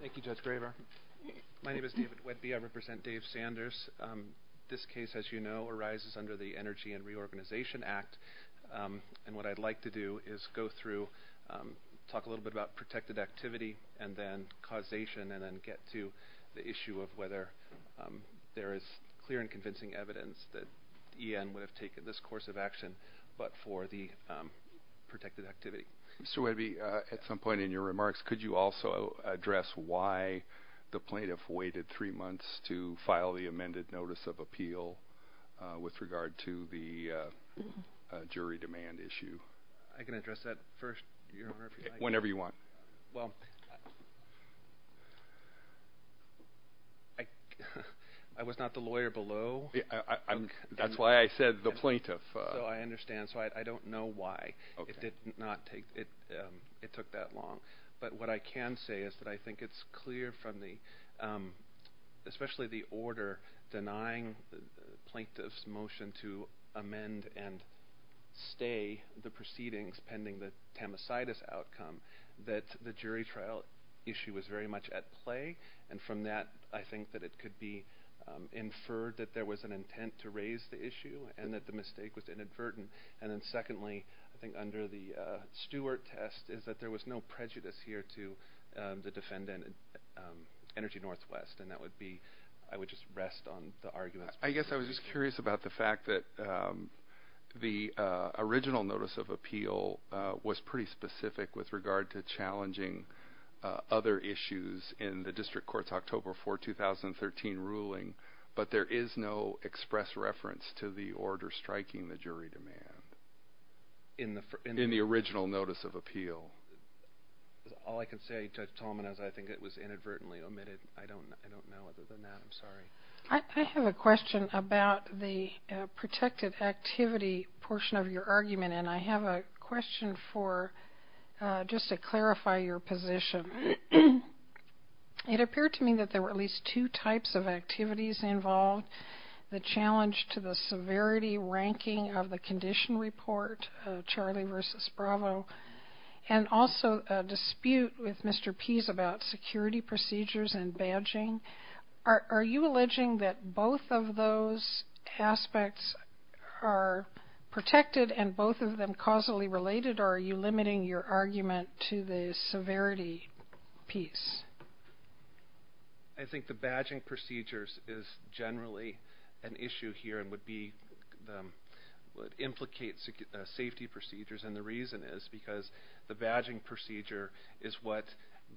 Thank you, Judge Graver. My name is David Wedby. I represent Dave Sanders. This case, as you know, arises under the Energy and Reorganization Act, and what I'd like to do is go through, talk a little bit about protected activity, and then causation, and then get to the issue of whether there is clear and convincing evidence that EN would have taken this course of action, but for the protected activity. Mr. Wedby, at some point in your remarks, could you also address why the plaintiff waited three months to file the amended notice of appeal with regard to the jury demand issue? I can address that first, Your Honor. Whenever you want. Well, I was not the lawyer below. That's why I said the plaintiff. So I understand. So I don't know why it did not take, it took that long, but what I can say is that I think it's clear from the, especially the order denying the plaintiff's motion to amend and stay the proceedings pending the tamasitis outcome, that the jury trial issue was very much at play, and from that, I think that it could be inferred that there was an intent to raise the issue, and that the mistake was inadvertent, and then secondly, I think under the Stewart test is that there was no prejudice here to the defendant, Energy Northwest, and that would be, I would just rest on the arguments. I guess I was just curious about the fact that the original notice of appeal was pretty specific with regard to challenging other issues in the District Court's October 4, 2013 ruling, but there is no express reference to the order striking the jury demand in the original notice of appeal. All I can say to tell him is I think it was inadvertently omitted. I don't know other than that. I'm sorry. I have a question about the protected activity portion of your argument, and I have a question for, just to clarify your position. It appeared to me that there were at least two types of activities involved. The challenge to the severity ranking of the condition report, Charlie versus Bravo, and also a dispute with Mr. Pease about security procedures and badging. Are you alleging that both of those aspects are protected and both of them causally related, or are you limiting your generally an issue here and would implicate safety procedures, and the reason is because the badging procedure is what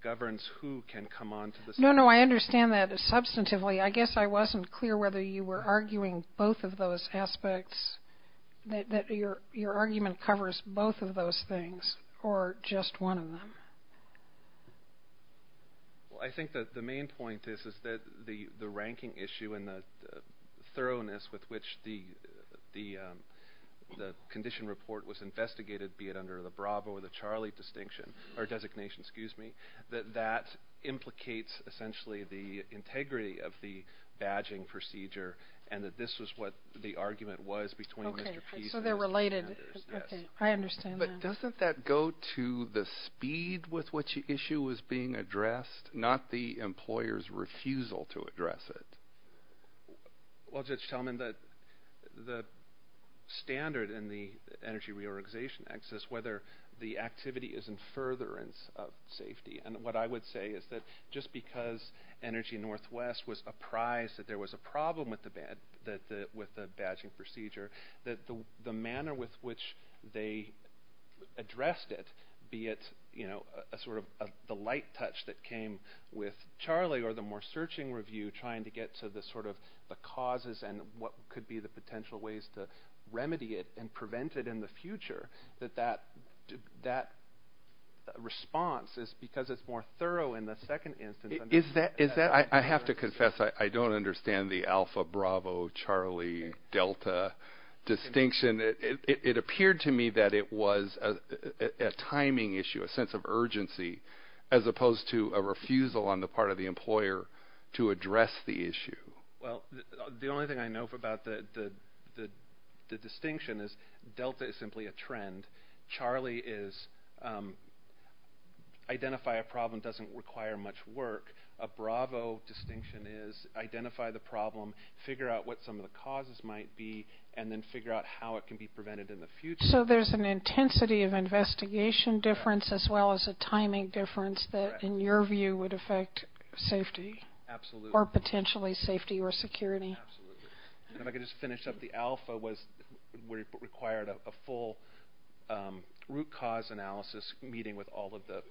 governs who can come on to the... No, no. I understand that substantively. I guess I wasn't clear whether you were arguing both of those aspects, that your argument covers both of those things or just one of them. Well, I think that the main point is that the ranking issue and the thoroughness with which the condition report was investigated, be it under the Bravo or the Charlie designation, that that implicates essentially the integrity of the badging procedure and that this was what the argument was between Mr. Pease and investigators. Okay, so they're related. Yes. Okay, I understand that. But doesn't that go to the speed with which the issue was being Well, Judge Talman, the standard in the Energy Reorganization Act says whether the activity is in furtherance of safety, and what I would say is that just because Energy Northwest was apprised that there was a problem with the badging procedure, that the manner with which they addressed it, be it a sort of the light touch that came with Charlie or the more searching review trying to get to the sort of the causes and what could be the potential ways to remedy it and prevent it in the future, that that response is because it's more thorough in the second instance. Is that, I have to confess, I don't understand the Alpha, Bravo, Charlie, Delta distinction. It appeared to me that it was a timing issue, a sense of urgency, as opposed to a refusal on the part of the employer to address the issue. Well, the only thing I know about the distinction is Delta is simply a trend. Charlie is identify a problem doesn't require much work. A Bravo distinction is identify the problem, figure out what some of the causes might be, and then figure out how it can be prevented in the future. So there's an intensity of investigation difference as well as a timing difference that, in your view, would affect safety? Absolutely. Or potentially safety or security? Absolutely. And if I could just finish up, the Alpha required a full root cause analysis meeting with all of the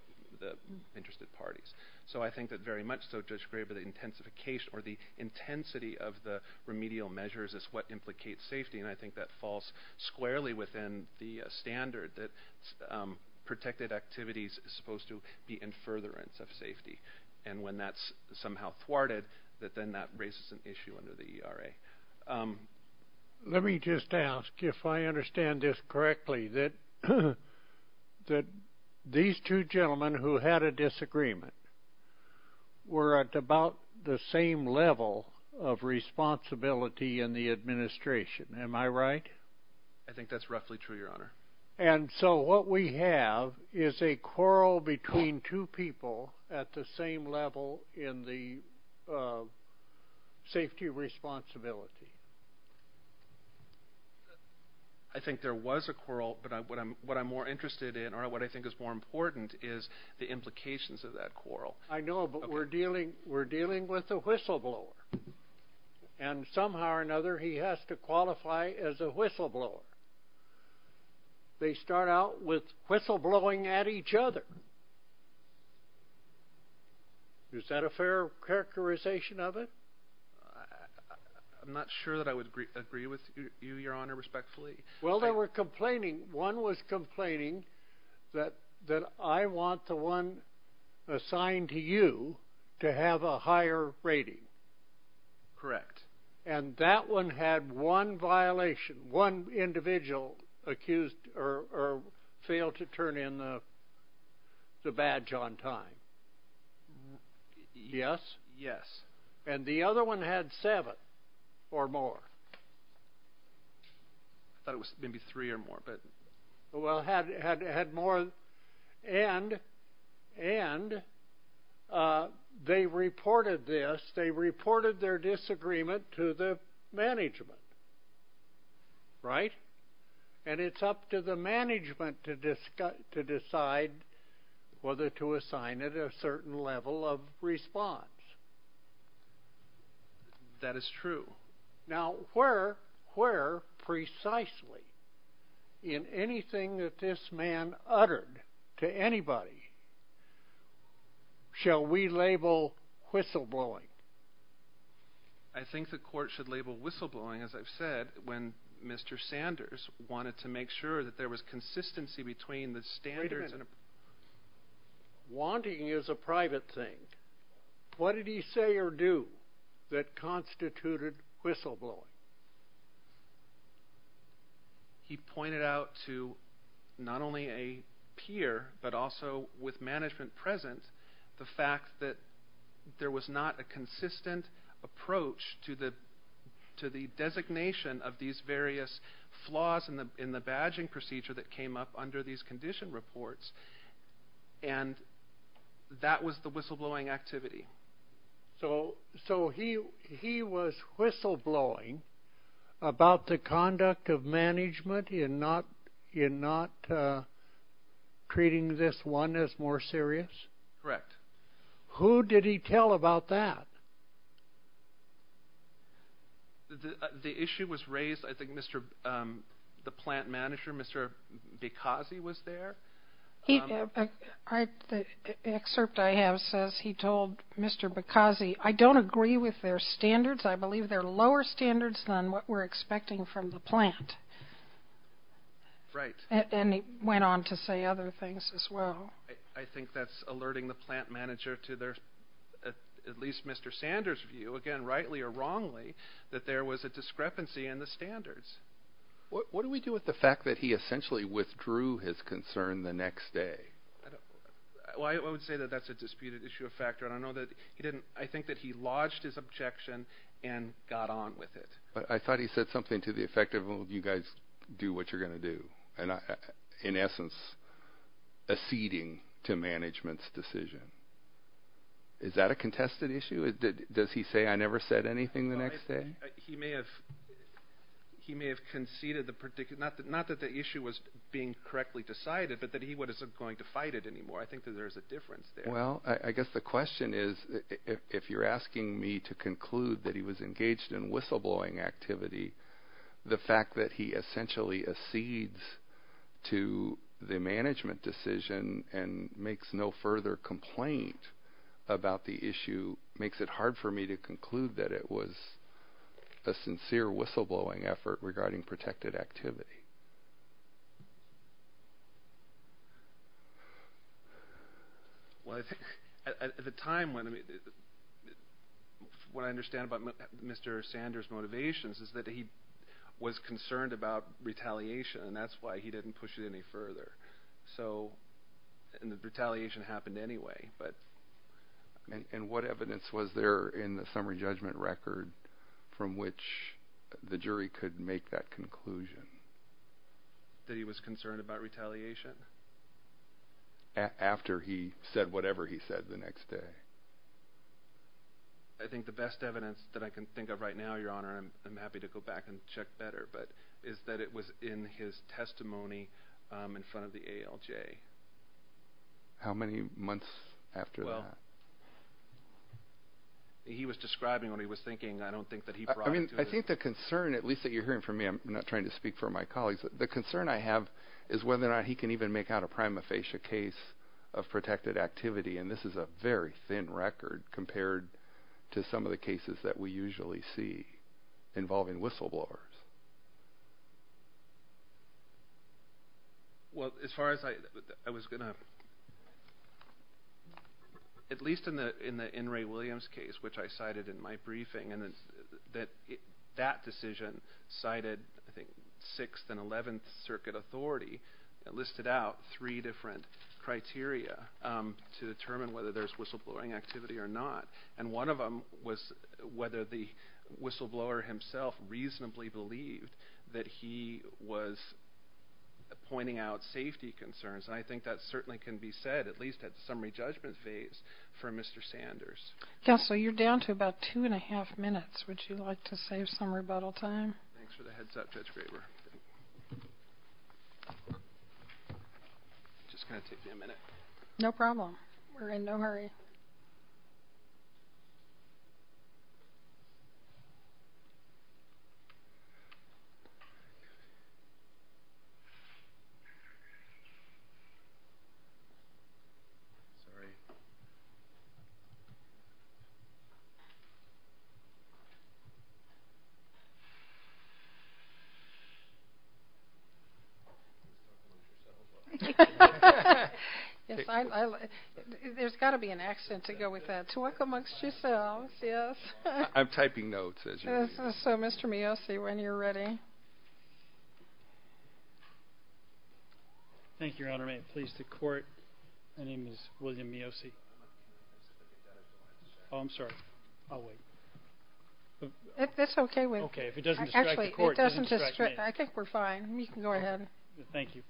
interested parties. So I think that very much so, Judge Graber, the intensification or the intensity of the remedial measures is what implicates safety, and I think that falls squarely within the standard that protected activities are supposed to be in furtherance of safety. And when that's somehow thwarted, then that raises an issue under the ERA. Let me just ask, if I understand this correctly, that these two gentlemen who had a disagreement were at about the same level of responsibility in the administration. Am I right? I think that's roughly true, Your Honor. And so what we have is a quarrel between two people at the same level in the safety responsibility. I think there was a quarrel, but what I'm more interested in, or what I think is more important, is the implications of that quarrel. I know, but we're dealing with a whistleblower, and somehow or another he has to qualify as a whistleblower. They start out with whistleblowing at each other. Is that a fair characterization of it? I'm not sure that I would agree with you, Your Honor, respectfully. Well, they were complaining. One was complaining that I want the one assigned to you to have a higher rating. Correct. And that one had one violation, one individual accused or failed to turn in the badge on time. Yes. And the other one had seven or more. I thought it was maybe three or more, but... Well, had more, and they reported this. They reported their disagreement to the management, right? And it's up to the management to decide whether to assign it a certain level of response. That is true. Now, where precisely in anything that this man uttered to anybody shall we label whistleblowing? I think the court should label whistleblowing, as I've said, when Mr. Sanders wanted to make sure that there was consistency between the standards... He pointed out to not only a peer, but also with management present, the fact that there was not a consistent approach to the designation of these various flaws in the badging procedure that came up under these condition reports, and that was the whistleblowing activity. So he was whistleblowing about the conduct of management in not treating this one as more serious? Correct. Who did he tell about that? The issue was raised, I think, the plant manager, Mr. Bikazi, was there. The excerpt I have says he told Mr. Bikazi, I don't agree with their standards. I believe they're lower standards than what we're expecting from the plant. Right. And he went on to say other things as well. I think that's alerting the plant manager to their, at least Mr. Sanders' view, again, rightly or wrongly, that there was a discrepancy in the standards. What do we do with the fact that he essentially withdrew his concern the next day? Well, I would say that that's a disputed issue of factor, and I think that he lodged his objection and got on with it. But I thought he said something to the effect of, well, you guys do what you're going to do, and in essence, acceding to management's decision. Is that a contested issue? Does he say, I never said anything the next day? He may have conceded, not that the issue was being correctly decided, but that he wasn't going to fight it anymore. I think that there's a difference there. Well, I guess the question is, if you're asking me to conclude that he was engaged in whistleblowing activity, the fact that he essentially accedes to the management decision and makes no further complaint about the issue, makes it hard for me to conclude that it was a sincere whistleblowing effort regarding protected activity. Well, I think at the time, what I understand about Mr. Sanders' motivations is that he was concerned about retaliation, and that's why he didn't push it any further, and the retaliation happened anyway. And what evidence was there in the summary judgment record from which the jury could make that conclusion? That he was concerned about retaliation? After he said whatever he said the next day. I think the best evidence that I can think of right now, Your Honor, and I'm happy to go back and check better, is that it was in his testimony in front of the ALJ. How many months after that? Well, he was describing what he was thinking. I don't think that he brought it to us. I mean, I think the concern, at least that you're hearing from me, I'm not trying to speak for my colleagues, the concern I have is whether or not he can even make out a prima facie case of protected activity, and this is a very thin record compared to some of the cases that we usually see involving whistleblowers. Well, as far as I was going to, at least in the N. Ray Williams case, which I cited in my briefing, that decision cited, I think, 6th and 11th Circuit authority, listed out three different criteria to determine whether there's whistleblowing activity or not, and one of them was whether the whistleblower himself reasonably believed that he was pointing out safety concerns, and I think that certainly can be said, at least at the summary judgment phase, for Mr. Sanders. Counsel, you're down to about two and a half minutes. Would you like to save some rebuttal time? Thanks for the heads up, Judge Graber. It's just going to take me a minute. No problem. We're in no hurry. Sorry. There's got to be an accent to go with that. Twerk amongst yourselves, yes. I'm typing notes, as you see. So, Mr. Mio, see when you're ready. Thank you, Your Honor. May it please the Court, my name is William Mio. Oh, I'm sorry. I'll wait. That's okay. Okay, if it doesn't distract the Court, it doesn't distract me. I think we're fine. You can go ahead. Thank you.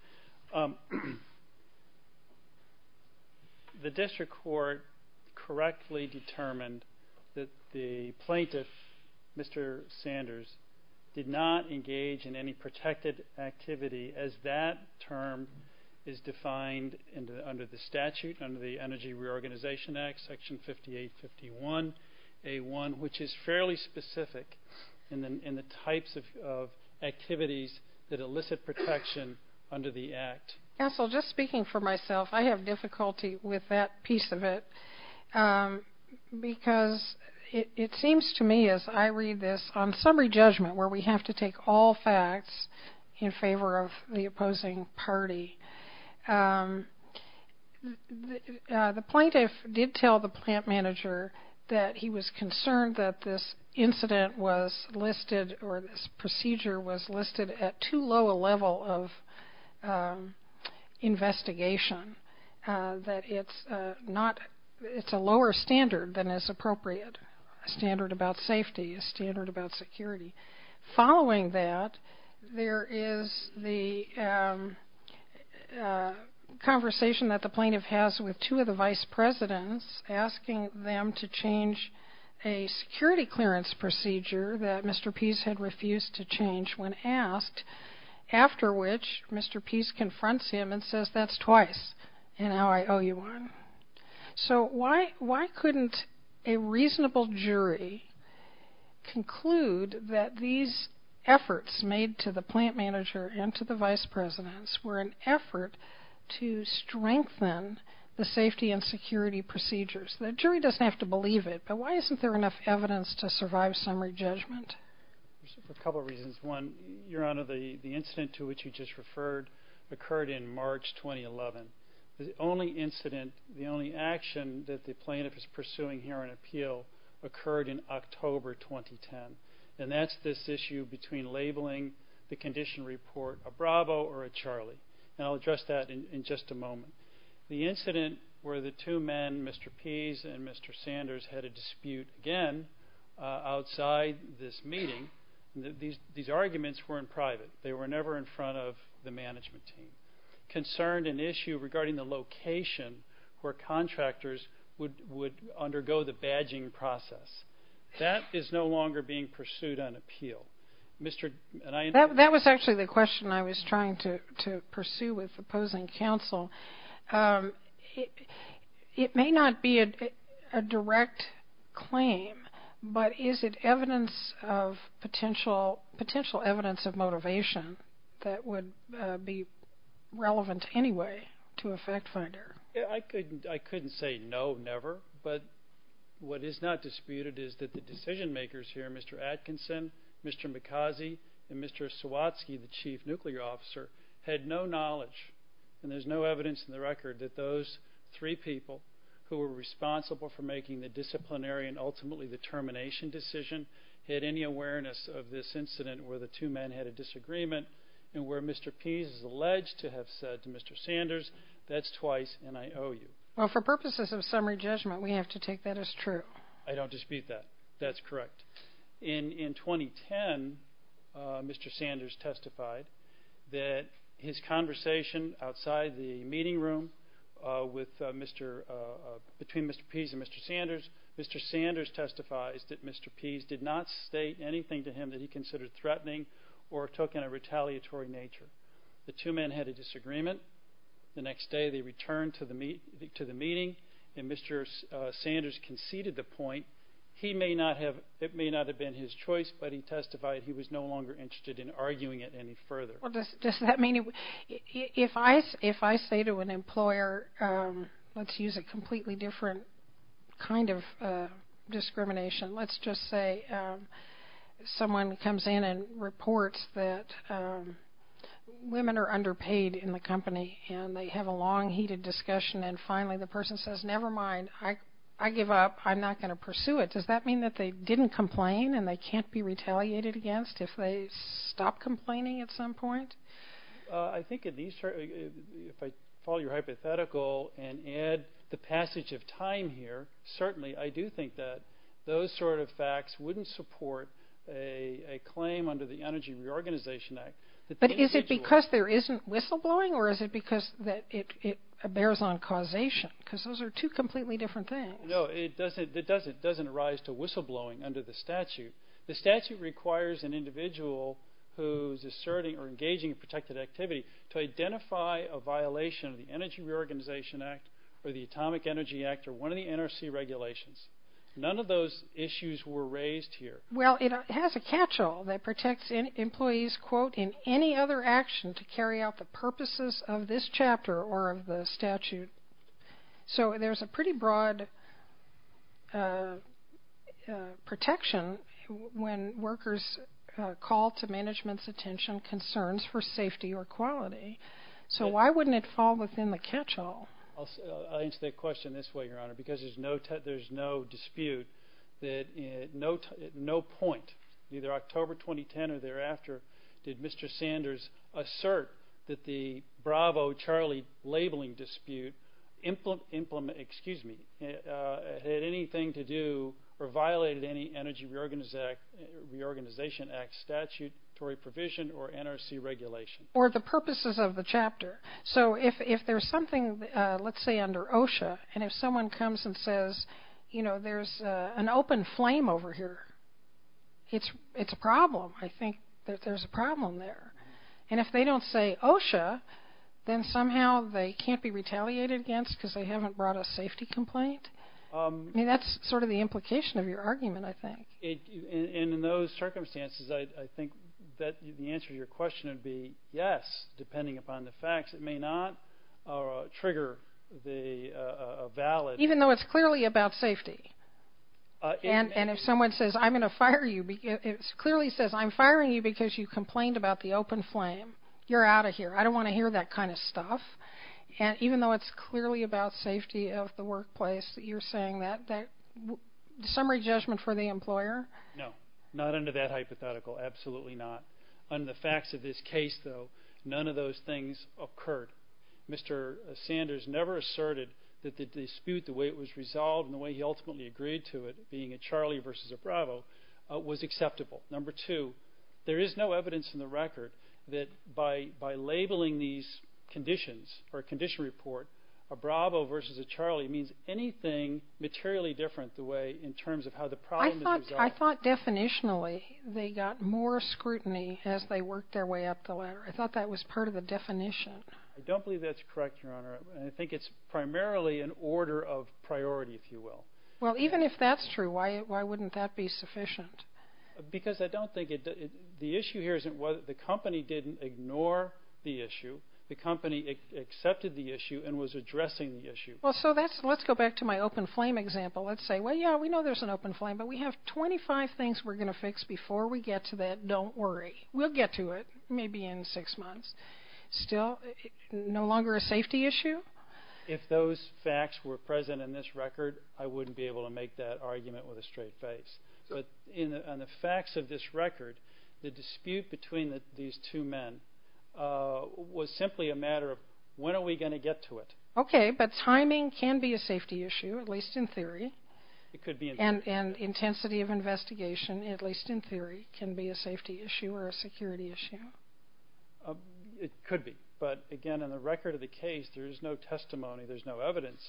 The district court correctly determined that the plaintiff, Mr. Sanders, did not engage in any protected activity as that term is defined under the statute, under the Energy Reorganization Act, Section 5851A1, which is fairly specific in the types of activities that elicit protection under the Act. Counsel, just speaking for myself, I have difficulty with that piece of it because it seems to me, as I read this on summary judgment where we have to take all facts in favor of the opposing party, the plaintiff did tell the plant manager that he was concerned that this incident was listed or this procedure was listed at too low a level of investigation, that it's a lower standard than is appropriate, a standard about safety, a standard about security. Following that, there is the conversation that the plaintiff has with two of the vice presidents, asking them to change a security clearance procedure that Mr. Pease had refused to change when asked, after which Mr. Pease confronts him and says, that's twice, and now I owe you one. So why couldn't a reasonable jury conclude that these efforts made to the plant manager and to the vice presidents were an effort to strengthen the safety and security procedures? The jury doesn't have to believe it, but why isn't there enough evidence to survive summary judgment? There's a couple of reasons. One, Your Honor, the incident to which you just referred occurred in March 2011. The only incident, the only action that the plaintiff is pursuing here on appeal occurred in October 2010, and that's this issue between labeling the condition report a Bravo or a Charlie, The incident where the two men, Mr. Pease and Mr. Sanders, had a dispute again outside this meeting, these arguments were in private. They were never in front of the management team, concerned an issue regarding the location where contractors would undergo the badging process. That is no longer being pursued on appeal. That was actually the question I was trying to pursue with opposing counsel. It may not be a direct claim, but is it evidence of potential, potential evidence of motivation that would be relevant anyway to a fact finder? I couldn't say no, never, but what is not disputed is that the decision makers here, Mr. Atkinson, Mr. Mikhazy, and Mr. Sawatsky, the chief nuclear officer, had no knowledge and there's no evidence in the record that those three people who were responsible for making the disciplinary and ultimately the termination decision had any awareness of this incident where the two men had a disagreement and where Mr. Pease is alleged to have said to Mr. Sanders, that's twice and I owe you. Well, for purposes of summary judgment, we have to take that as true. I don't dispute that. That's correct. In 2010, Mr. Sanders testified that his conversation outside the meeting room between Mr. Pease and Mr. Sanders, Mr. Sanders testified that Mr. Pease did not state anything to him that he considered threatening or took in a retaliatory nature. The two men had a disagreement. The next day they returned to the meeting and Mr. Sanders conceded the point. He may not have, it may not have been his choice, but he testified he was no longer interested in arguing it any further. Does that mean, if I say to an employer, let's use a completely different kind of discrimination, let's just say someone comes in and reports that women are underpaid in the company and they have a long heated discussion and finally the person says, never mind, I give up. I'm not going to pursue it. Does that mean that they didn't complain and they can't be retaliated against if they stop complaining at some point? I think if I follow your hypothetical and add the passage of time here, certainly I do think that those sort of facts wouldn't support a claim under the Energy Reorganization Act. But is it because there isn't whistleblowing or is it because it bears on causation? Because those are two completely different things. No, it doesn't arise to whistleblowing under the statute. The statute requires an individual who is asserting or engaging in protected activity to identify a violation of the Energy Reorganization Act or the Atomic Energy Act or one of the NRC regulations. None of those issues were raised here. Well, it has a catch-all that protects employees, quote, in any other action to carry out the purposes of this chapter or of the statute. So there's a pretty broad protection when workers call to management's attention concerns for safety or quality. So why wouldn't it fall within the catch-all? I'll answer that question this way, Your Honor. Because there's no dispute that at no point, either October 2010 or thereafter, did Mr. Sanders assert that the Bravo-Charlie labeling dispute had anything to do or violated any Energy Reorganization Act statutory provision or NRC regulation. Or the purposes of the chapter. So if there's something, let's say, under OSHA, and if someone comes and says, you know, there's an open flame over here, it's a problem. I think that there's a problem there. And if they don't say OSHA, then somehow they can't be retaliated against because they haven't brought a safety complaint? I mean, that's sort of the implication of your argument, I think. And in those circumstances, I think that the answer to your question would be yes, depending upon the facts. It may not trigger the valid. Even though it's clearly about safety? And if someone says, I'm going to fire you, it clearly says I'm firing you because you complained about the open flame. You're out of here. I don't want to hear that kind of stuff. And even though it's clearly about safety of the workplace that you're saying that, summary judgment for the employer? No, not under that hypothetical, absolutely not. Under the facts of this case, though, none of those things occurred. Mr. Sanders never asserted that the dispute, the way it was resolved and the way he ultimately agreed to it, being a Charlie versus a Bravo, was acceptable. Number two, there is no evidence in the record that by labeling these conditions or a condition report, a Bravo versus a Charlie, means anything materially different in terms of how the problem is resolved. I thought definitionally they got more scrutiny as they worked their way up the ladder. I thought that was part of the definition. I don't believe that's correct, Your Honor. I think it's primarily an order of priority, if you will. Well, even if that's true, why wouldn't that be sufficient? Because I don't think it does. The issue here isn't whether the company didn't ignore the issue. The company accepted the issue and was addressing the issue. Well, so let's go back to my open flame example. Let's say, well, yeah, we know there's an open flame, but we have 25 things we're going to fix before we get to that. Don't worry. We'll get to it maybe in six months. Still, no longer a safety issue? If those facts were present in this record, I wouldn't be able to make that argument with a straight face. But on the facts of this record, the dispute between these two men was simply a matter of when are we going to get to it. Okay, but timing can be a safety issue, at least in theory. It could be. And intensity of investigation, at least in theory, can be a safety issue or a security issue. It could be. But, again, on the record of the case, there is no testimony, there's no evidence,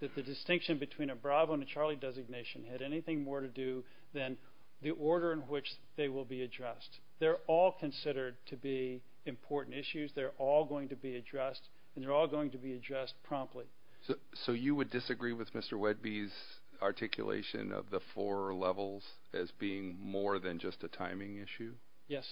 that the distinction between a Bravo and a Charlie designation had anything more to do than the order in which they will be addressed. They're all considered to be important issues. They're all going to be addressed, and they're all going to be addressed promptly. So you would disagree with Mr. Wedby's articulation of the four levels as being more than just a timing issue? Yes.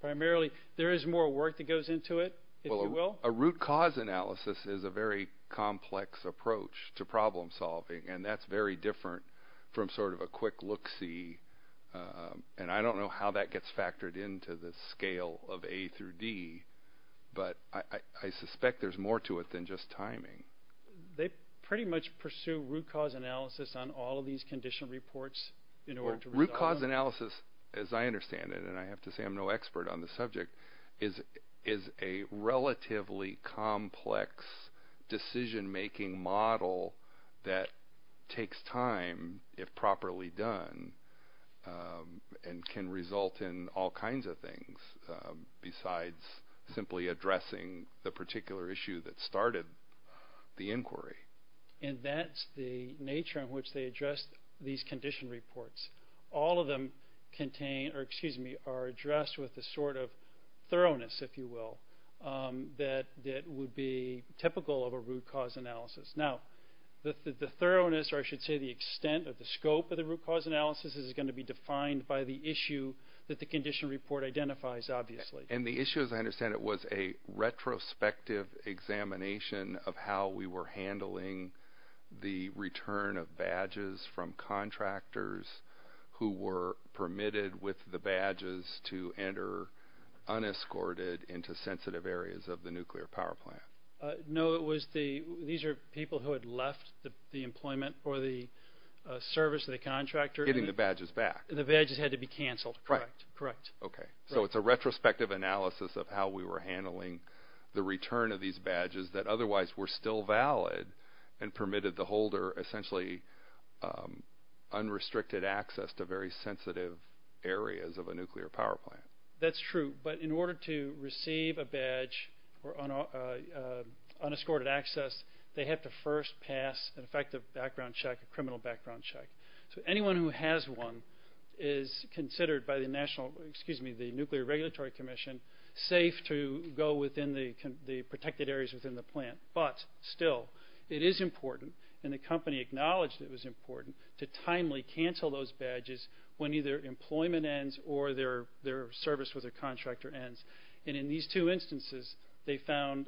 Primarily, there is more work that goes into it, if you will. A root cause analysis is a very complex approach to problem solving, and that's very different from sort of a quick look-see. And I don't know how that gets factored into the scale of A through D, but I suspect there's more to it than just timing. They pretty much pursue root cause analysis on all of these condition reports in order to resolve them. Root cause analysis, as I understand it, and I have to say I'm no expert on the subject, is a relatively complex decision-making model that takes time, if properly done, and can result in all kinds of things besides simply addressing the particular issue that started the inquiry. And that's the nature in which they address these condition reports. All of them are addressed with a sort of thoroughness, if you will, that would be typical of a root cause analysis. Now, the thoroughness, or I should say the extent or the scope of the root cause analysis, is going to be defined by the issue that the condition report identifies, obviously. And the issue, as I understand it, was a retrospective examination of how we were handling the return of badges from contractors who were permitted with the badges to enter unescorted into sensitive areas of the nuclear power plant. No, these are people who had left the employment or the service of the contractor. Getting the badges back. The badges had to be canceled. Right. Correct. Okay. So it's a retrospective analysis of how we were handling the return of these badges that otherwise were still valid and permitted the holder essentially unrestricted access to very sensitive areas of a nuclear power plant. That's true. But in order to receive a badge or unescorted access, they have to first pass an effective background check, a criminal background check. So anyone who has one is considered by the Nuclear Regulatory Commission safe to go within the protected areas within the plant. But still, it is important, and the company acknowledged it was important, to timely cancel those badges when either employment ends or their service with a contractor ends. And in these two instances, they found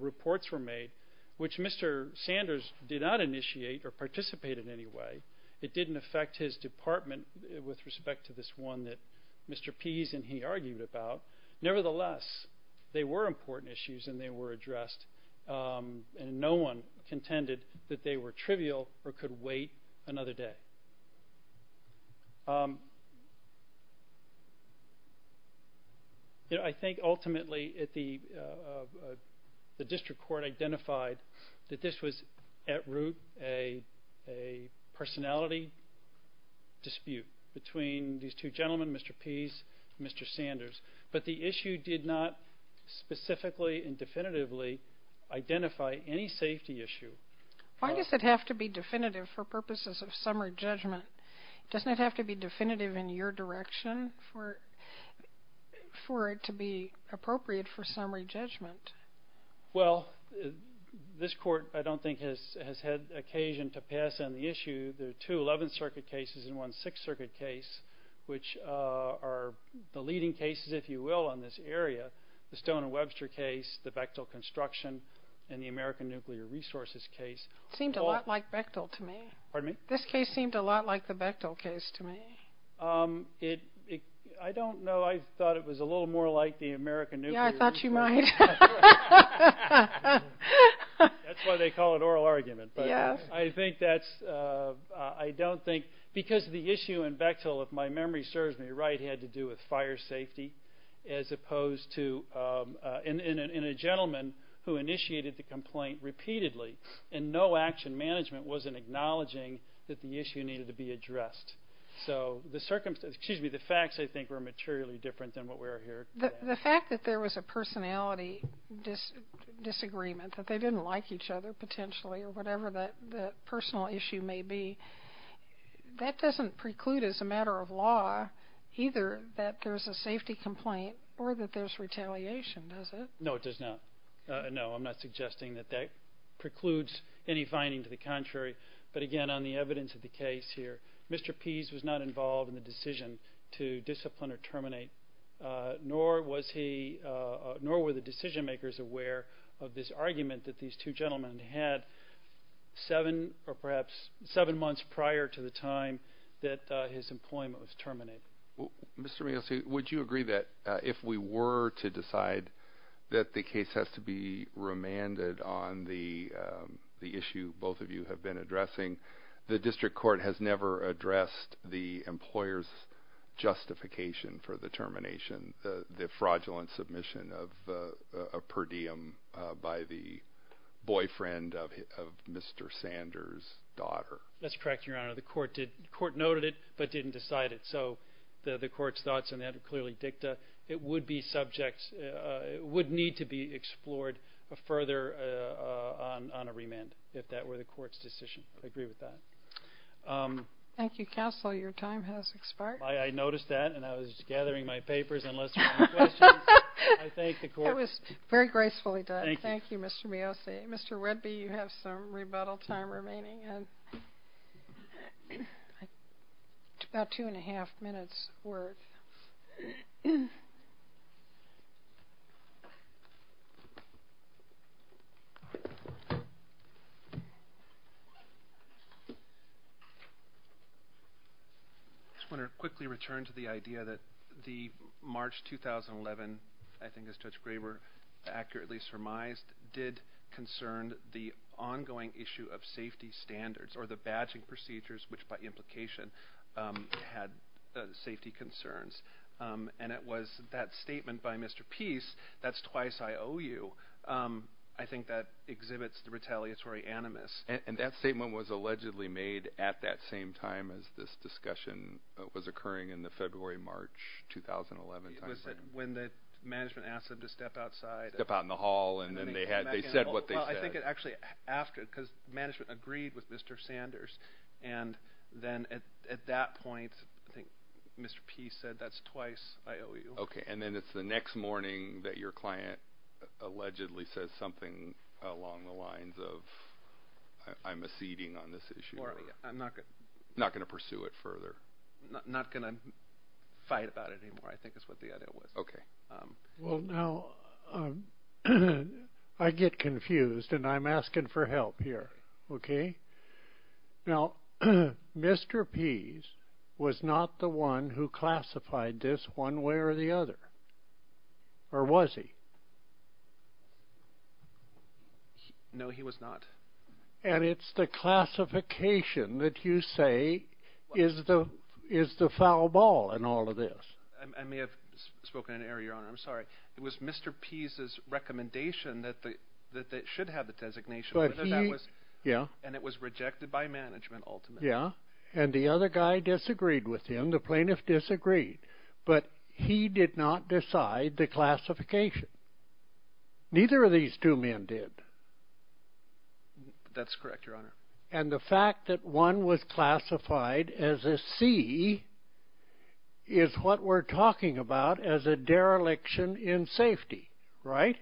reports were made, which Mr. Sanders did not initiate or participate in any way. It didn't affect his department with respect to this one that Mr. Pease and he argued about. Nevertheless, they were important issues and they were addressed, and no one contended that they were trivial or could wait another day. I think ultimately the district court identified that this was at root a personality dispute between these two gentlemen, Mr. Pease and Mr. Sanders. But the issue did not specifically and definitively identify any safety issue. Why does it have to be definitive for purposes of summary judgment? Doesn't it have to be definitive in your direction for it to be appropriate for summary judgment? Well, this court, I don't think, has had occasion to pass on the issue. There are two Eleventh Circuit cases and one Sixth Circuit case, which are the leading cases, if you will, on this area. The Stone and Webster case, the Bechtel construction, and the American Nuclear Resources case. It seemed a lot like Bechtel to me. Pardon me? This case seemed a lot like the Bechtel case to me. I don't know. I thought it was a little more like the American Nuclear Resources case. Yeah, I thought you might. That's why they call it oral argument. Yeah. I don't think because the issue in Bechtel, if my memory serves me right, had to do with fire safety as opposed to in a gentleman who initiated the complaint repeatedly and no action management was in acknowledging that the issue needed to be addressed. So the facts, I think, were materially different than what we're hearing today. The fact that there was a personality disagreement, that they didn't like each other potentially or whatever that personal issue may be, that doesn't preclude as a matter of law either that there's a safety complaint or that there's retaliation, does it? No, it does not. No, I'm not suggesting that that precludes any finding to the contrary. But, again, on the evidence of the case here, Mr. Pease was not involved in the decision to discipline or terminate, nor were the decision makers aware of this argument that these two gentlemen had seven, or perhaps seven months prior to the time that his employment was terminated. Mr. Meals, would you agree that if we were to decide that the case has to be remanded on the issue both of you have been addressing, the district court has never addressed the employer's justification for the termination, the fraudulent submission of per diem by the boyfriend of Mr. Sanders' daughter? That's correct, Your Honor. The court noted it but didn't decide it. So the court's thoughts on that are clearly dicta. It would need to be explored further on a remand if that were the court's decision. I agree with that. Thank you, counsel. Your time has expired. I noticed that, and I was gathering my papers and listening to questions. I thank the court. It was very gracefully done. Thank you, Mr. Meals. Mr. Wedby, you have some rebuttal time remaining, about two and a half minutes worth. I just want to quickly return to the idea that the March 2011, I think as Judge Graber accurately surmised, did concern the ongoing issue of safety standards or the badging procedures, which by implication had safety concerns. And it was that statement by Mr. Peace, that's twice I owe you, I think that exhibits the retaliatory animus. And that statement was allegedly made at that same time as this discussion was occurring in the February-March 2011 timeframe. It was when the management asked him to step outside. They stepped out in the hall, and they said what they said. I think it actually after, because management agreed with Mr. Sanders. And then at that point, I think Mr. Peace said, that's twice I owe you. Okay. And then it's the next morning that your client allegedly says something along the lines of, I'm acceding on this issue. Or I'm not going to pursue it further. Not going to fight about it anymore, I think is what the idea was. Okay. Well, now, I get confused, and I'm asking for help here. Okay. Now, Mr. Peace was not the one who classified this one way or the other. Or was he? No, he was not. And it's the classification that you say is the foul ball in all of this. I may have spoken in error, Your Honor. I'm sorry. It was Mr. Peace's recommendation that it should have the designation. Yeah. And it was rejected by management ultimately. Yeah. And the other guy disagreed with him. The plaintiff disagreed. But he did not decide the classification. Neither of these two men did. That's correct, Your Honor. And the fact that one was classified as a C is what we're talking about as a dereliction in safety, right?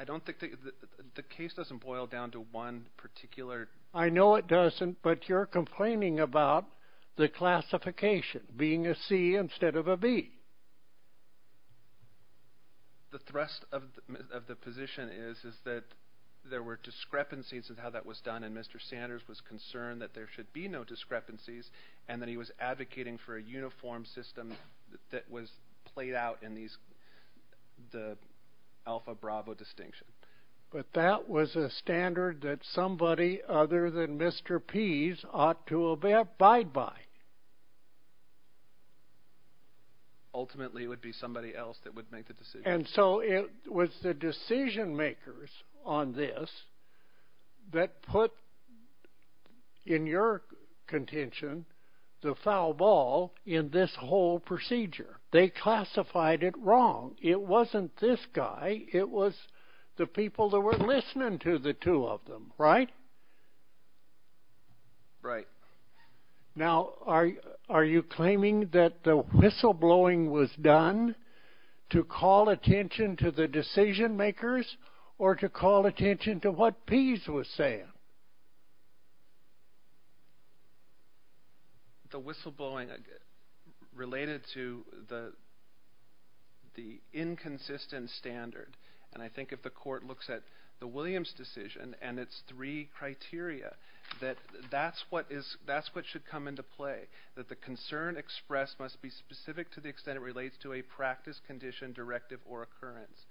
I don't think the case doesn't boil down to one particular. I know it doesn't, but you're complaining about the classification being a C instead of a B. The thrust of the position is that there were discrepancies in how that was done, and Mr. Sanders was concerned that there should be no discrepancies, and that he was advocating for a uniform system that was played out in the Alpha Bravo distinction. But that was a standard that somebody other than Mr. Peace ought to abide by. Ultimately, it would be somebody else that would make the decision. And so it was the decision-makers on this that put, in your contention, the foul ball in this whole procedure. They classified it wrong. It wasn't this guy. It was the people that were listening to the two of them, right? Right. Now, are you claiming that the whistleblowing was done to call attention to the decision-makers or to call attention to what Peace was saying? The whistleblowing related to the inconsistent standard, and I think if the court looks at the Williams decision and its three criteria, that that's what should come into play, that the concern expressed must be specific to the extent it relates to a practice, condition, directive, or occurrence.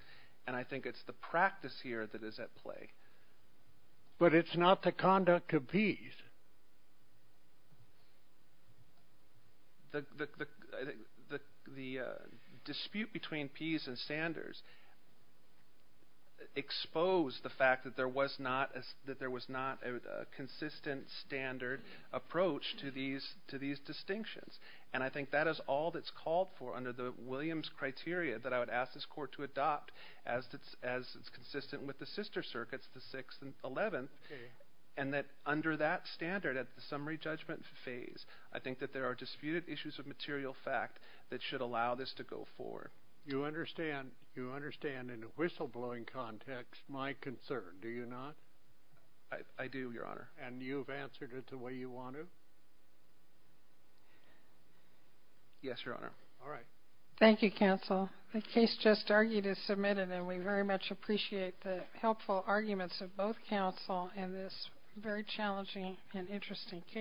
And I think it's the practice here that is at play. But it's not the conduct of Peace. The dispute between Peace and Sanders exposed the fact that there was not a consistent standard approach to these distinctions. And I think that is all that's called for under the Williams criteria that I would ask this court to adopt as it's consistent with the sister circuits, the 6th and 11th, and that under that standard at the summary judgment phase, I think that there are disputed issues of material fact that should allow this to go forward. You understand in a whistleblowing context my concern, do you not? I do, Your Honor. And you've answered it the way you want to? Yes, Your Honor. All right. Thank you, counsel. The case just argued is submitted, and we very much appreciate the helpful arguments of both counsel in this very challenging and interesting case.